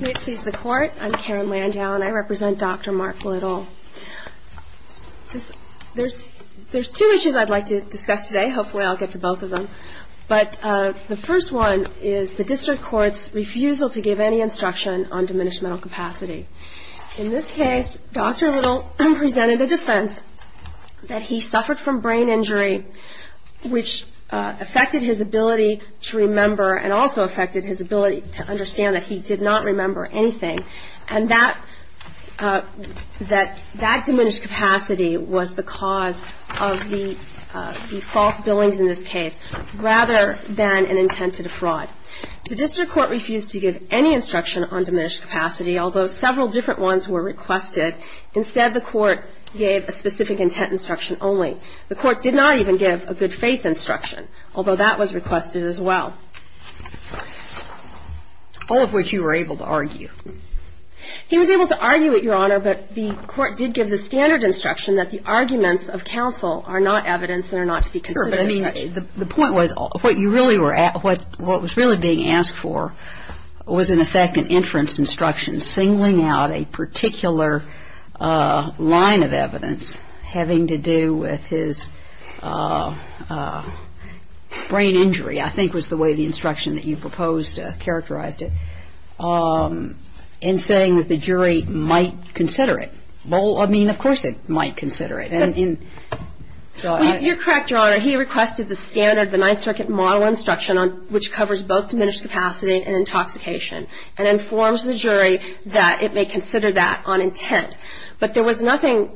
May it please the Court, I'm Karen Landau and I represent Dr. Mark Little. There's two issues I'd like to discuss today, hopefully I'll get to both of them, but the first one is the District Court's refusal to give any instruction on diminished mental capacity. In this case, Dr. Little presented a defense that he suffered from brain injury, which affected his ability to remember and also affected his ability to understand. Understand that he did not remember anything, and that diminished capacity was the cause of the false billings in this case, rather than an intent to defraud. The District Court refused to give any instruction on diminished capacity, although several different ones were requested. Instead, the Court gave a specific intent instruction only. The Court did not even give a good faith instruction, although that was requested as well. All of which you were able to argue. He was able to argue it, Your Honor, but the Court did give the standard instruction that the arguments of counsel are not evidence and are not to be considered as such. You're correct, Your Honor. He requested the standard, the Ninth Circuit model instruction, which covers both diminished capacity and intoxication, and informs the jury that it may consider that on intent. But there was nothing,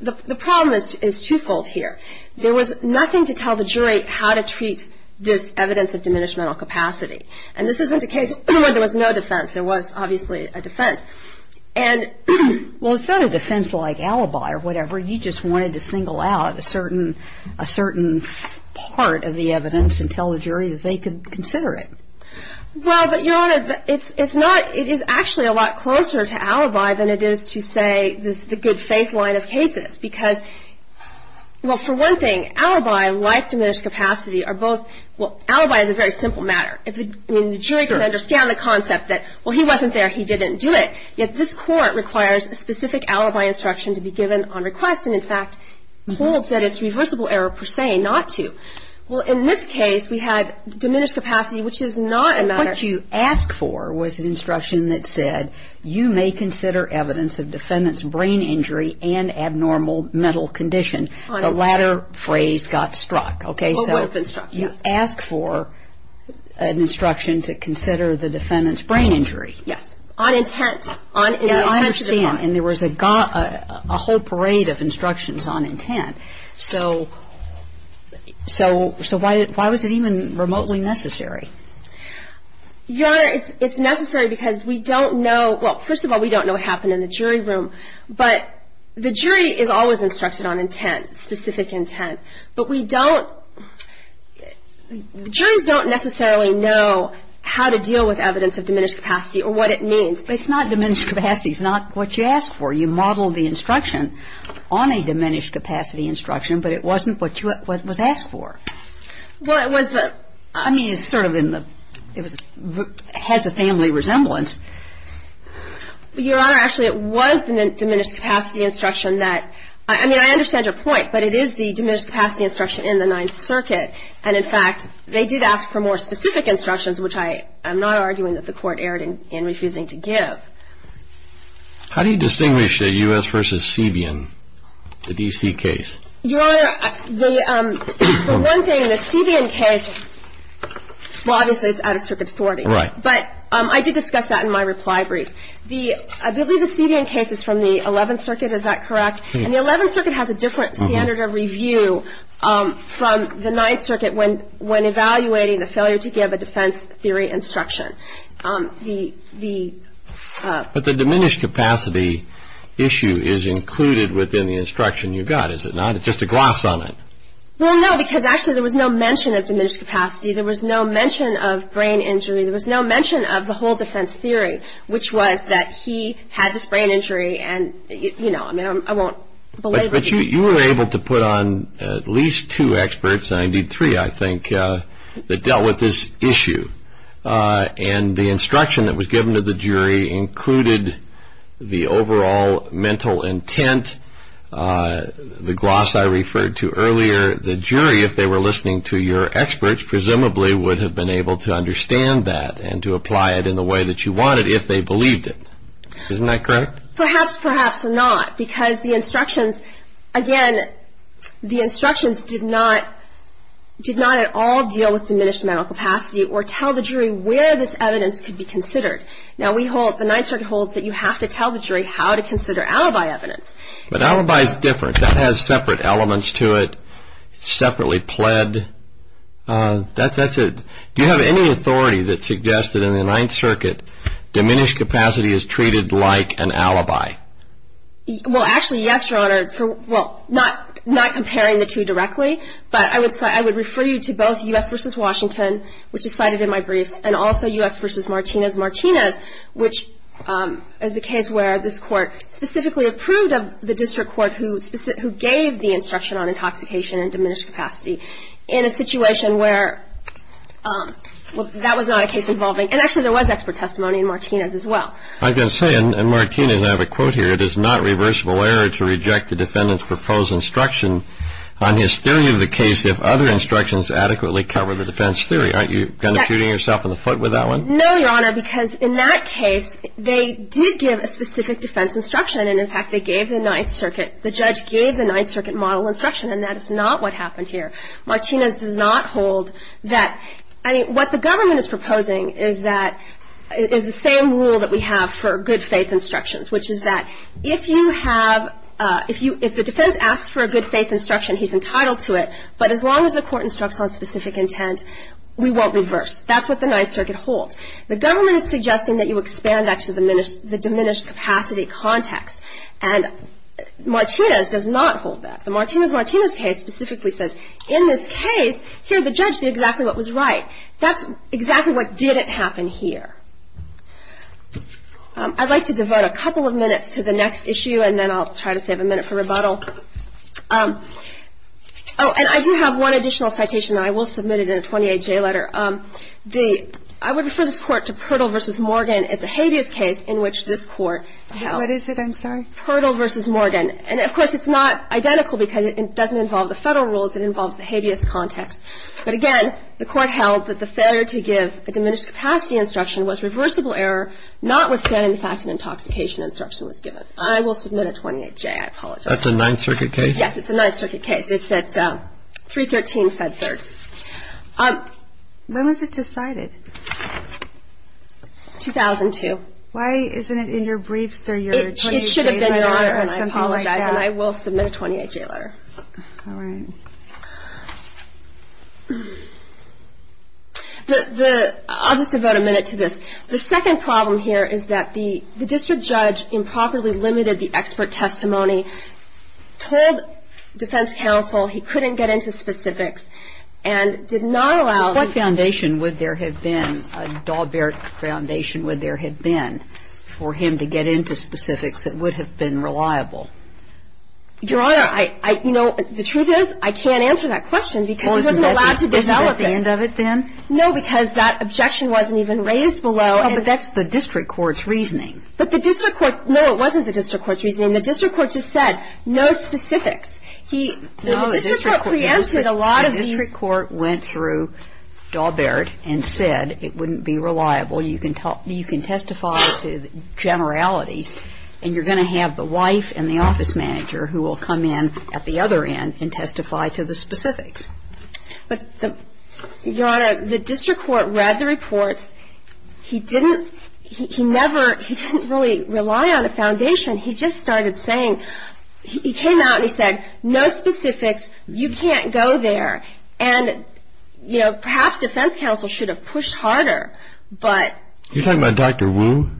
the problem is two-fold here. There was nothing to tell the jury how to treat this evidence of diminished mental capacity. And this isn't a case where there was no defense. There was obviously a defense. And, well, it's not a defense like alibi or whatever. You just wanted to single out a certain part of the evidence and tell the jury that they could consider it. Well, but, Your Honor, it's not, it is actually a lot closer to alibi than it is to, say, the good faith line of cases. Because, well, for one thing, alibi like diminished capacity are both, well, alibi is a very simple matter. The jury can understand the concept that, well, he wasn't there, he didn't do it. Yet this Court requires a specific alibi instruction to be given on request and, in fact, holds that it's reversible error per se not to. Well, in this case, we had diminished capacity, which is not a matter of What you asked for was an instruction that said, you may consider evidence of defendant's brain injury and abnormal mental condition. On intent. The latter phrase got struck. Okay, so A word of instruction. You asked for an instruction to consider the defendant's brain injury. Yes. On intent. I understand. And there was a whole parade of instructions on intent. So why was it even remotely necessary? Your Honor, it's necessary because we don't know, well, first of all, we don't know what happened in the jury room. But the jury is always instructed on intent, specific intent. But we don't, the juries don't necessarily know how to deal with evidence of diminished capacity or what it means. But it's not diminished capacity. It's not what you asked for. You modeled the instruction on a diminished capacity instruction, but it wasn't what was asked for. Well, it was the I mean, it's sort of in the, it has a family resemblance. Your Honor, actually, it was the diminished capacity instruction that, I mean, I understand your point, but it is the diminished capacity instruction in the Ninth Circuit. And, in fact, they did ask for more specific instructions, which I am not arguing that the Court erred in refusing to give. How do you distinguish the U.S. v. Seabian, the D.C. case? Your Honor, the one thing, the Seabian case, well, obviously, it's out of circuit authority. Right. But I did discuss that in my reply brief. I believe the Seabian case is from the Eleventh Circuit. Is that correct? And the Eleventh Circuit has a different standard of review from the Ninth Circuit when evaluating the failure to give a defense theory instruction. But the diminished capacity issue is included within the instruction you got, is it not? It's just a gloss on it. Well, no, because, actually, there was no mention of diminished capacity. There was no mention of brain injury. There was no mention of the whole defense theory, which was that he had this brain injury and, you know, I mean, I won't belabor it. But you were able to put on at least two experts, and indeed three, I think, that dealt with this issue. And the instruction that was given to the jury included the overall mental intent, the gloss I referred to earlier. The jury, if they were listening to your experts, presumably would have been able to understand that and to apply it in the way that you wanted if they believed it. Isn't that correct? Perhaps, perhaps not, because the instructions, again, the instructions did not at all deal with diminished mental capacity or tell the jury where this evidence could be considered. Now, we hold, the Ninth Circuit holds that you have to tell the jury how to consider alibi evidence. But alibi is different. That has separate elements to it, separately pled. That's a, do you have any authority that suggests that in the Ninth Circuit, diminished capacity is treated like an alibi? Well, actually, yes, Your Honor, for, well, not comparing the two directly, but I would refer you to both U.S. v. Washington, which is cited in my briefs, and also U.S. v. Martinez-Martinez, which is a case where this Court specifically approved of the district court who gave the instruction on intoxication and diminished capacity in a situation where, well, that was not a case involving, and actually there was expert testimony in Martinez as well. I can say, and Martinez, I have a quote here, it is not reversible error to reject the defendant's proposed instruction on hysteria of the case if other instructions adequately cover the defense theory. Aren't you kind of shooting yourself in the foot with that one? No, Your Honor, because in that case, they did give a specific defense instruction. And, in fact, they gave the Ninth Circuit, the judge gave the Ninth Circuit model instruction, and that is not what happened here. Martinez does not hold that, I mean, what the government is proposing is that, is the same rule that we have for good faith instructions, which is that if you have, if the defense asks for a good faith instruction, he's entitled to it, but as long as the court instructs on specific intent, we won't reverse. That's what the Ninth Circuit holds. The government is suggesting that you expand that to the diminished capacity context, and Martinez does not hold that. The Martinez-Martinez case specifically says, in this case, here the judge did exactly what was right. That's exactly what didn't happen here. I'd like to devote a couple of minutes to the next issue, and then I'll try to save a minute for rebuttal. Oh, and I do have one additional citation that I will submit it in a 28-J letter. The, I would refer this Court to Pirtle v. Morgan. It's a habeas case in which this Court held. What is it? I'm sorry. Pirtle v. Morgan. And, of course, it's not identical because it doesn't involve the Federal rules. It involves the habeas context. But, again, the Court held that the failure to give a diminished capacity instruction was reversible error notwithstanding the fact an intoxication instruction was given. I will submit a 28-J. I apologize. That's a Ninth Circuit case? Yes, it's a Ninth Circuit case. It's at 313 Fed Third. When was it decided? Why isn't it in your briefs or your 28-J letter or something like that? It should have been, Your Honor, and I apologize. And I will submit a 28-J letter. All right. The, I'll just devote a minute to this. The second problem here is that the district judge improperly limited the expert testimony, told defense counsel he couldn't get into specifics, and did not allow the ---- What foundation would there have been, a Dahlberg foundation would there have been, for him to get into specifics that would have been reliable? Your Honor, I, you know, the truth is I can't answer that question because he wasn't allowed to develop it. Wasn't that the end of it then? No, because that objection wasn't even raised below. Oh, but that's the district court's reasoning. But the district court, no, it wasn't the district court's reasoning. The district court just said no specifics. He, the district court preempted a lot of these. No, the district court went through Dahlberg and said it wouldn't be reliable. You can talk, you can testify to generalities, and you're going to have the wife and the office manager who will come in at the other end and testify to the specifics. But the, Your Honor, the district court read the reports. He didn't, he never, he didn't really rely on a foundation. He just started saying, he came out and he said no specifics, you can't go there. And, you know, perhaps defense counsel should have pushed harder. You're talking about Dr. Wu?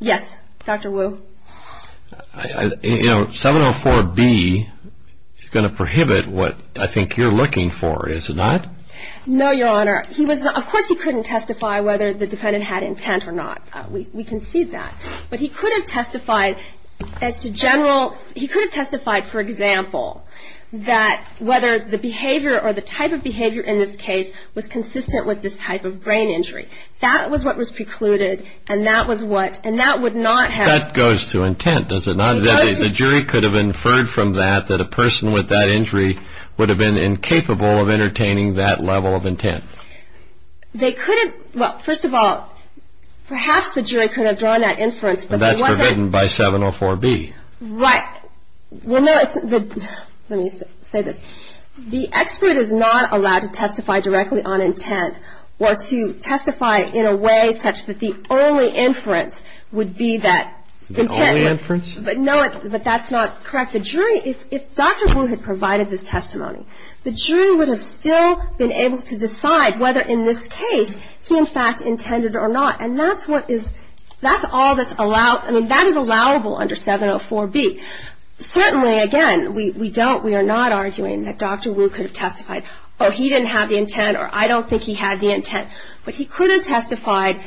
Yes, Dr. Wu. You know, 704B is going to prohibit what I think you're looking for, is it not? No, Your Honor. He was, of course he couldn't testify whether the defendant had intent or not. We concede that. But he could have testified as to general, he could have testified, for example, that whether the behavior or the type of behavior in this case was consistent with this type of brain injury. That was what was precluded, and that was what, and that would not have. That goes to intent, does it not? The jury could have inferred from that that a person with that injury would have been incapable of entertaining that level of intent. They could have, well, first of all, perhaps the jury could have drawn that inference. But that's forbidden by 704B. Right. Well, no, it's, let me say this. The expert is not allowed to testify directly on intent or to testify in a way such that the only inference would be that. The only inference? But not, but that's not correct. The jury, if Dr. Wu had provided this testimony, the jury would have still been able to decide whether in this case he, in fact, intended or not. And that's what is, that's all that's allowed, I mean, that is allowable under 704B. Certainly, again, we don't, we are not arguing that Dr. Wu could have testified, oh, he didn't have the intent, or I don't think he had the intent. But he could have testified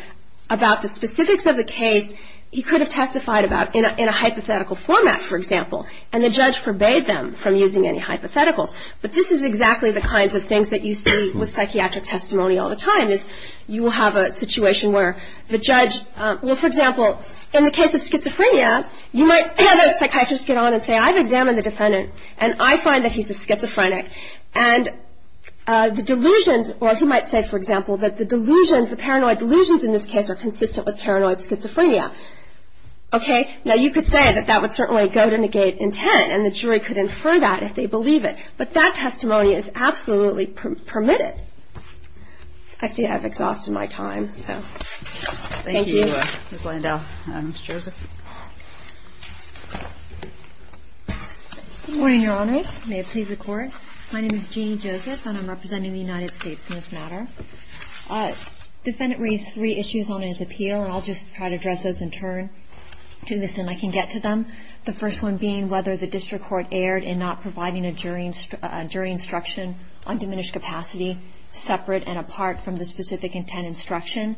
about the specifics of the case he could have testified about in a hypothetical format, for example. And the judge forbade them from using any hypotheticals. But this is exactly the kinds of things that you see with psychiatric testimony all the time, is you will have a situation where the judge, well, for example, in the case of schizophrenia, you might have a psychiatrist get on and say, I've examined the defendant, and I find that he's a schizophrenic. And the delusions, or he might say, for example, that the delusions, the paranoid delusions in this case are consistent with paranoid schizophrenia. Okay. Now, you could say that that would certainly go to negate intent, and the jury could infer that if they believe it. But that testimony is absolutely permitted. I see I've exhausted my time, so thank you. Thank you, Ms. Landau. Ms. Joseph. Good morning, Your Honors. May it please the Court. My name is Jeanne Joseph, and I'm representing the United States in this matter. The defendant raised three issues on his appeal, and I'll just try to address those in turn. I can get to them. The first one being whether the district court erred in not providing a jury instruction on diminished capacity separate and apart from the specific intent instruction.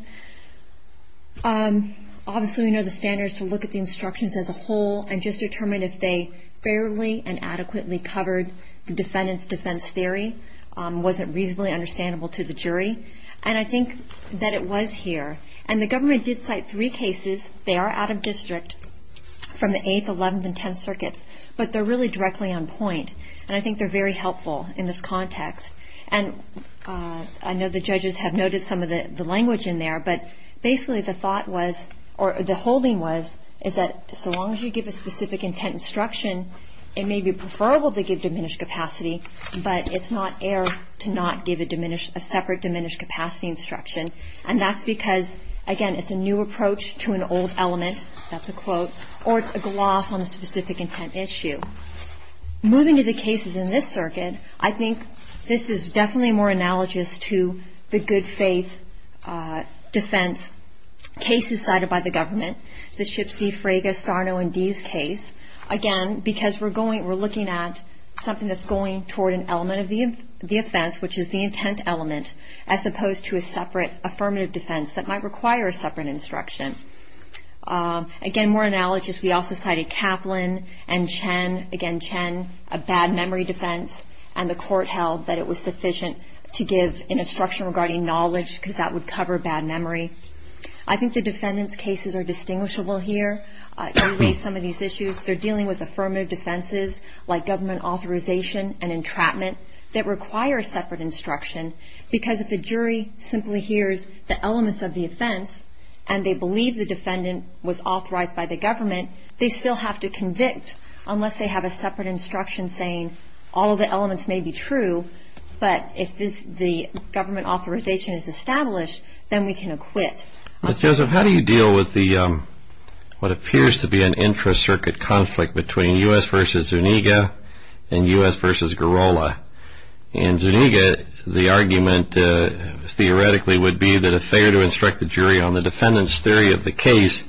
Obviously, we know the standards to look at the instructions as a whole and just determine if they fairly and adequately covered the defendant's defense theory wasn't reasonably understandable to the jury. And I think that it was here. And the government did cite three cases. They are out of district from the 8th, 11th, and 10th circuits, but they're really directly on point. And I think they're very helpful in this context. And I know the judges have noted some of the language in there, but basically the thought was, or the holding was, is that so long as you give a specific intent instruction, it may be preferable to give diminished capacity, but it's not error to not give a separate diminished capacity instruction. And that's because, again, it's a new approach to an old element, that's a quote, or it's a gloss on the specific intent issue. Moving to the cases in this circuit, I think this is definitely more analogous to the good faith defense cases cited by the government, the Shipsey, Fraga, Sarno, and Dease case. Again, because we're looking at something that's going toward an element of the offense, which is the intent element, as opposed to a separate affirmative defense that might require a separate instruction. Again, more analogous, we also cited Kaplan and Chen. Again, Chen, a bad memory defense, and the court held that it was sufficient to give an instruction regarding knowledge, because that would cover bad memory. I think the defendant's cases are distinguishable here. You raised some of these issues. They're dealing with affirmative defenses, like government authorization and entrapment, that require a separate instruction, because if a jury simply hears the elements of the offense and they believe the defendant was authorized by the government, they still have to convict unless they have a separate instruction saying all of the elements may be true, but if the government authorization is established, then we can acquit. Ms. Joseph, how do you deal with what appears to be an intra-circuit conflict between U.S. v. Zuniga and U.S. v. Girola? In Zuniga, the argument theoretically would be that if they were to instruct the jury on the defendant's theory of the case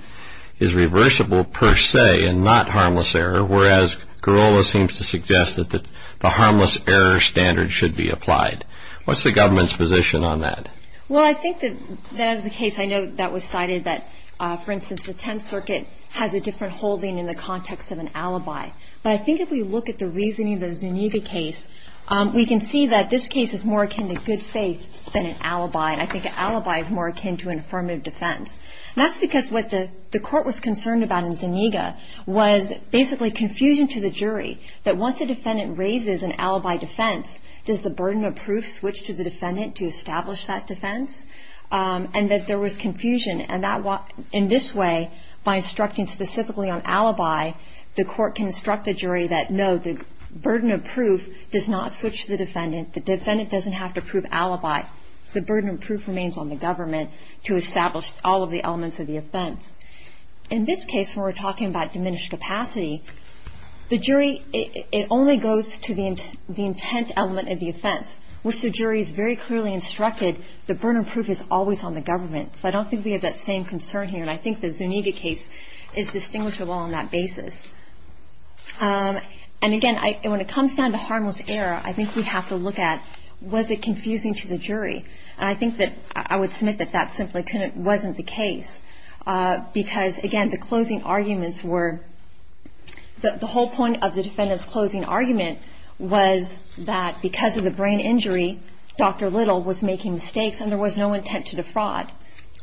is reversible per se and not harmless error, whereas Girola seems to suggest that the harmless error standard should be applied. What's the government's position on that? Well, I think that as a case I know that was cited that, for instance, the Tenth Circuit has a different holding in the context of an alibi, but I think if we look at the reasoning of the Zuniga case, we can see that this case is more akin to good faith than an alibi, and I think an alibi is more akin to an affirmative defense, and that's because what the court was concerned about in Zuniga was basically confusion to the jury that once a defendant raises an alibi defense, does the burden of proof switch to the defendant to establish that defense, and that there was confusion, and in this way, by instructing specifically on alibi, the court can instruct the jury that, no, the burden of proof does not switch to the defendant. The defendant doesn't have to prove alibi. The burden of proof remains on the government to establish all of the elements of the offense. In this case, when we're talking about diminished capacity, the jury, it only goes to the intent element of the offense, which the jury has very clearly instructed the burden of proof is always on the government. So I don't think we have that same concern here, and I think the Zuniga case is distinguishable on that basis. And, again, when it comes down to harmless error, I think we have to look at was it confusing to the jury, and I think that I would submit that that simply wasn't the case, because, again, the closing arguments were the whole point of the defendant's closing argument was that because of the brain injury, Dr. Little was making mistakes and there was no intent to defraud.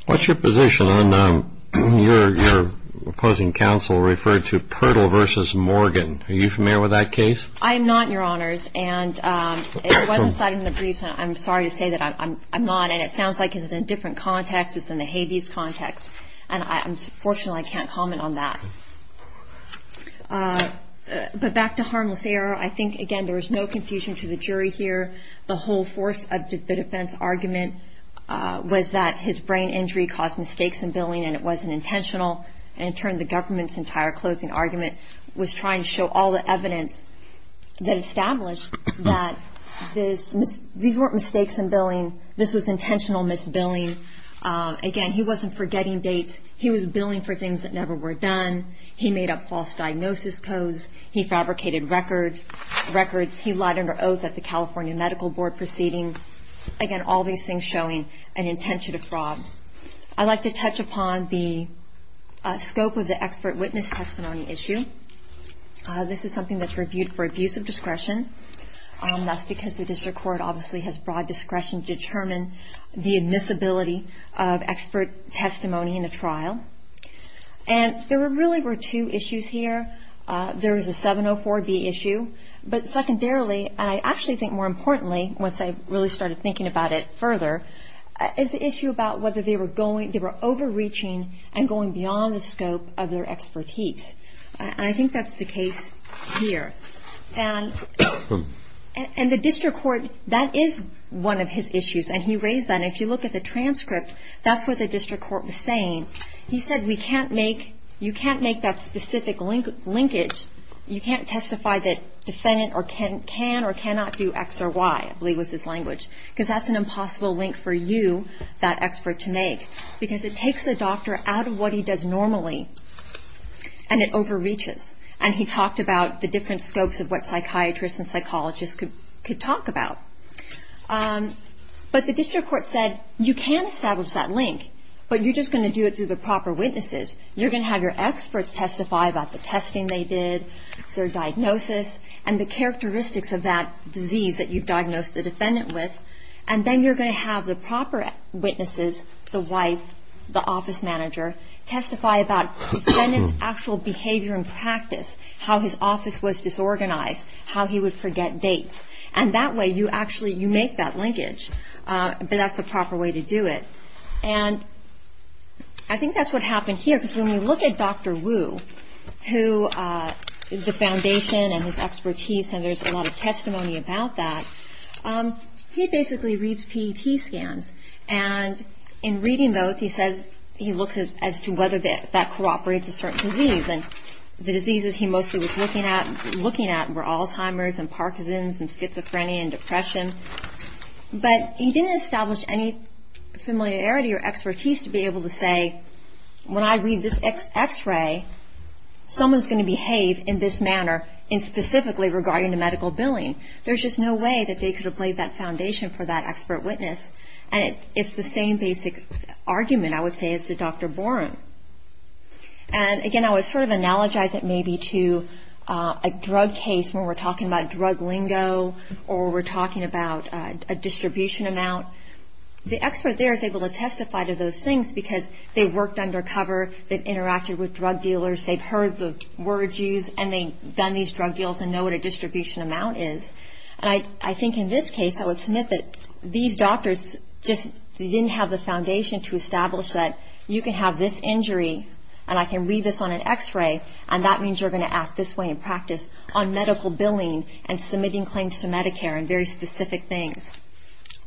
What's your position on your opposing counsel referred to Pirtle v. Morgan? Are you familiar with that case? I am not, Your Honors. And it wasn't cited in the briefs, and I'm sorry to say that I'm not. And it sounds like it's in a different context. It's in the habeas context. And, fortunately, I can't comment on that. But back to harmless error, I think, again, there was no confusion to the jury here. The whole force of the defendant's argument was that his brain injury caused mistakes in billing and it wasn't intentional. And, in turn, the government's entire closing argument was trying to show all the evidence that established that these weren't mistakes in billing. This was intentional misbilling. Again, he wasn't forgetting dates. He was billing for things that never were done. He made up false diagnosis codes. He fabricated records. He lied under oath at the California Medical Board proceeding. Again, all these things showing an intent to defraud. I'd like to touch upon the scope of the expert witness testimony issue. This is something that's reviewed for abuse of discretion. That's because the district court obviously has broad discretion to determine the admissibility of expert testimony in a trial. And there really were two issues here. There was the 704B issue. But secondarily, and I actually think more importantly, once I really started thinking about it further, is the issue about whether they were overreaching and going beyond the scope of their expertise. And I think that's the case here. And the district court, that is one of his issues. And he raised that. And if you look at the transcript, that's what the district court was saying. He said we can't make, you can't make that specific linkage. You can't testify that defendant can or cannot do X or Y, I believe was his language. Because that's an impossible link for you, that expert, to make. Because it takes a doctor out of what he does normally, and it overreaches. And he talked about the different scopes of what psychiatrists and psychologists could talk about. But the district court said you can establish that link, but you're just going to do it through the proper witnesses. You're going to have your experts testify about the testing they did, their diagnosis, and the characteristics of that disease that you've diagnosed the defendant with. And then you're going to have the proper witnesses, the wife, the office manager, testify about the defendant's actual behavior and practice, how his office was disorganized, how he would forget dates. And that way you actually, you make that linkage. But that's the proper way to do it. And I think that's what happened here, because when we look at Dr. Wu, who the foundation and his expertise, and there's a lot of testimony about that, he basically reads PET scans. And in reading those, he says he looks as to whether that cooperates a certain disease. And the diseases he mostly was looking at were Alzheimer's and Parkinson's and schizophrenia and depression. But he didn't establish any familiarity or expertise to be able to say, when I read this X-ray, someone's going to behave in this manner, and specifically regarding the medical billing. There's just no way that they could have laid that foundation for that expert witness. And it's the same basic argument, I would say, as to Dr. Borum. And, again, I would sort of analogize it maybe to a drug case where we're talking about drug lingo or we're talking about a distribution amount. The expert there is able to testify to those things because they've worked undercover, they've interacted with drug dealers, they've heard the words used, and they've done these drug deals and know what a distribution amount is. And I think in this case, I would submit that these doctors just didn't have the foundation to establish that you can have this injury, and I can read this on an X-ray, and that means you're going to act this way in practice on medical billing and submitting claims to Medicare and very specific things.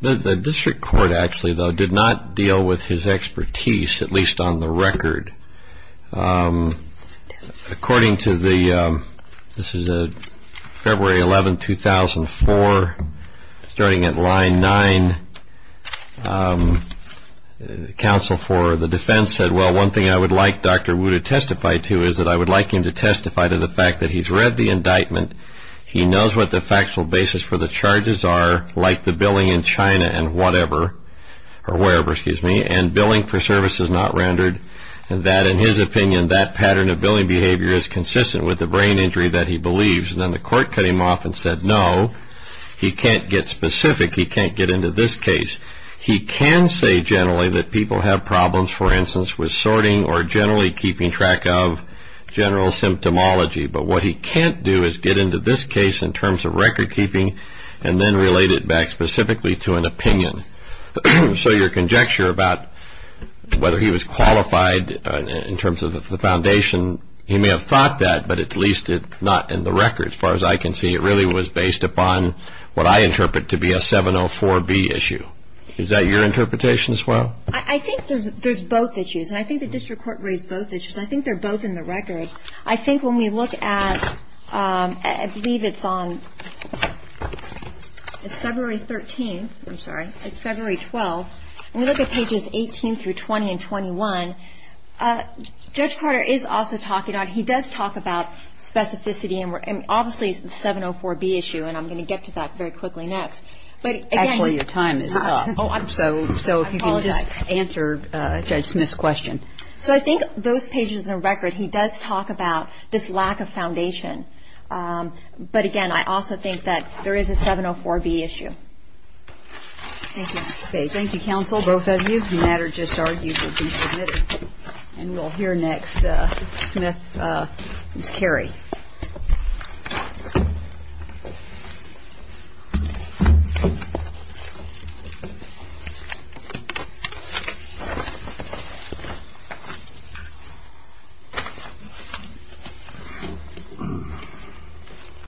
The district court, actually, though, did not deal with his expertise, at least on the record. According to the, this is February 11, 2004, starting at line nine, counsel for the defense said, well, one thing I would like Dr. Wu to testify to is that I would like him to testify to the fact that he's read the indictment, he knows what the factual basis for the charges are, like the billing in China and whatever, or wherever, excuse me, and billing for services not rendered, and that in his opinion, that pattern of billing behavior is consistent with the brain injury that he believes. And then the court cut him off and said, no, he can't get specific, he can't get into this case. He can say generally that people have problems, for instance, with sorting or generally keeping track of general symptomology, but what he can't do is get into this case in terms of record keeping and then relate it back specifically to an opinion. So your conjecture about whether he was qualified in terms of the foundation, he may have thought that, but at least not in the record, as far as I can see. It really was based upon what I interpret to be a 704B issue. Is that your interpretation as well? I think there's both issues, and I think the district court raised both issues. I think they're both in the record. I think when we look at, I believe it's on, it's February 13th. I'm sorry. It's February 12th. When we look at pages 18 through 20 and 21, Judge Carter is also talking about, he does talk about specificity, and obviously it's a 704B issue, and I'm going to get to that very quickly next. Actually, your time is up. Oh, I'm sorry. So if you can just answer Judge Smith's question. So I think those pages in the record, he does talk about this lack of foundation. But, again, I also think that there is a 704B issue. Thank you. Okay. Thank you, counsel, both of you. The matter just argued to be submitted. And we'll hear next Smith's carry. Thank you.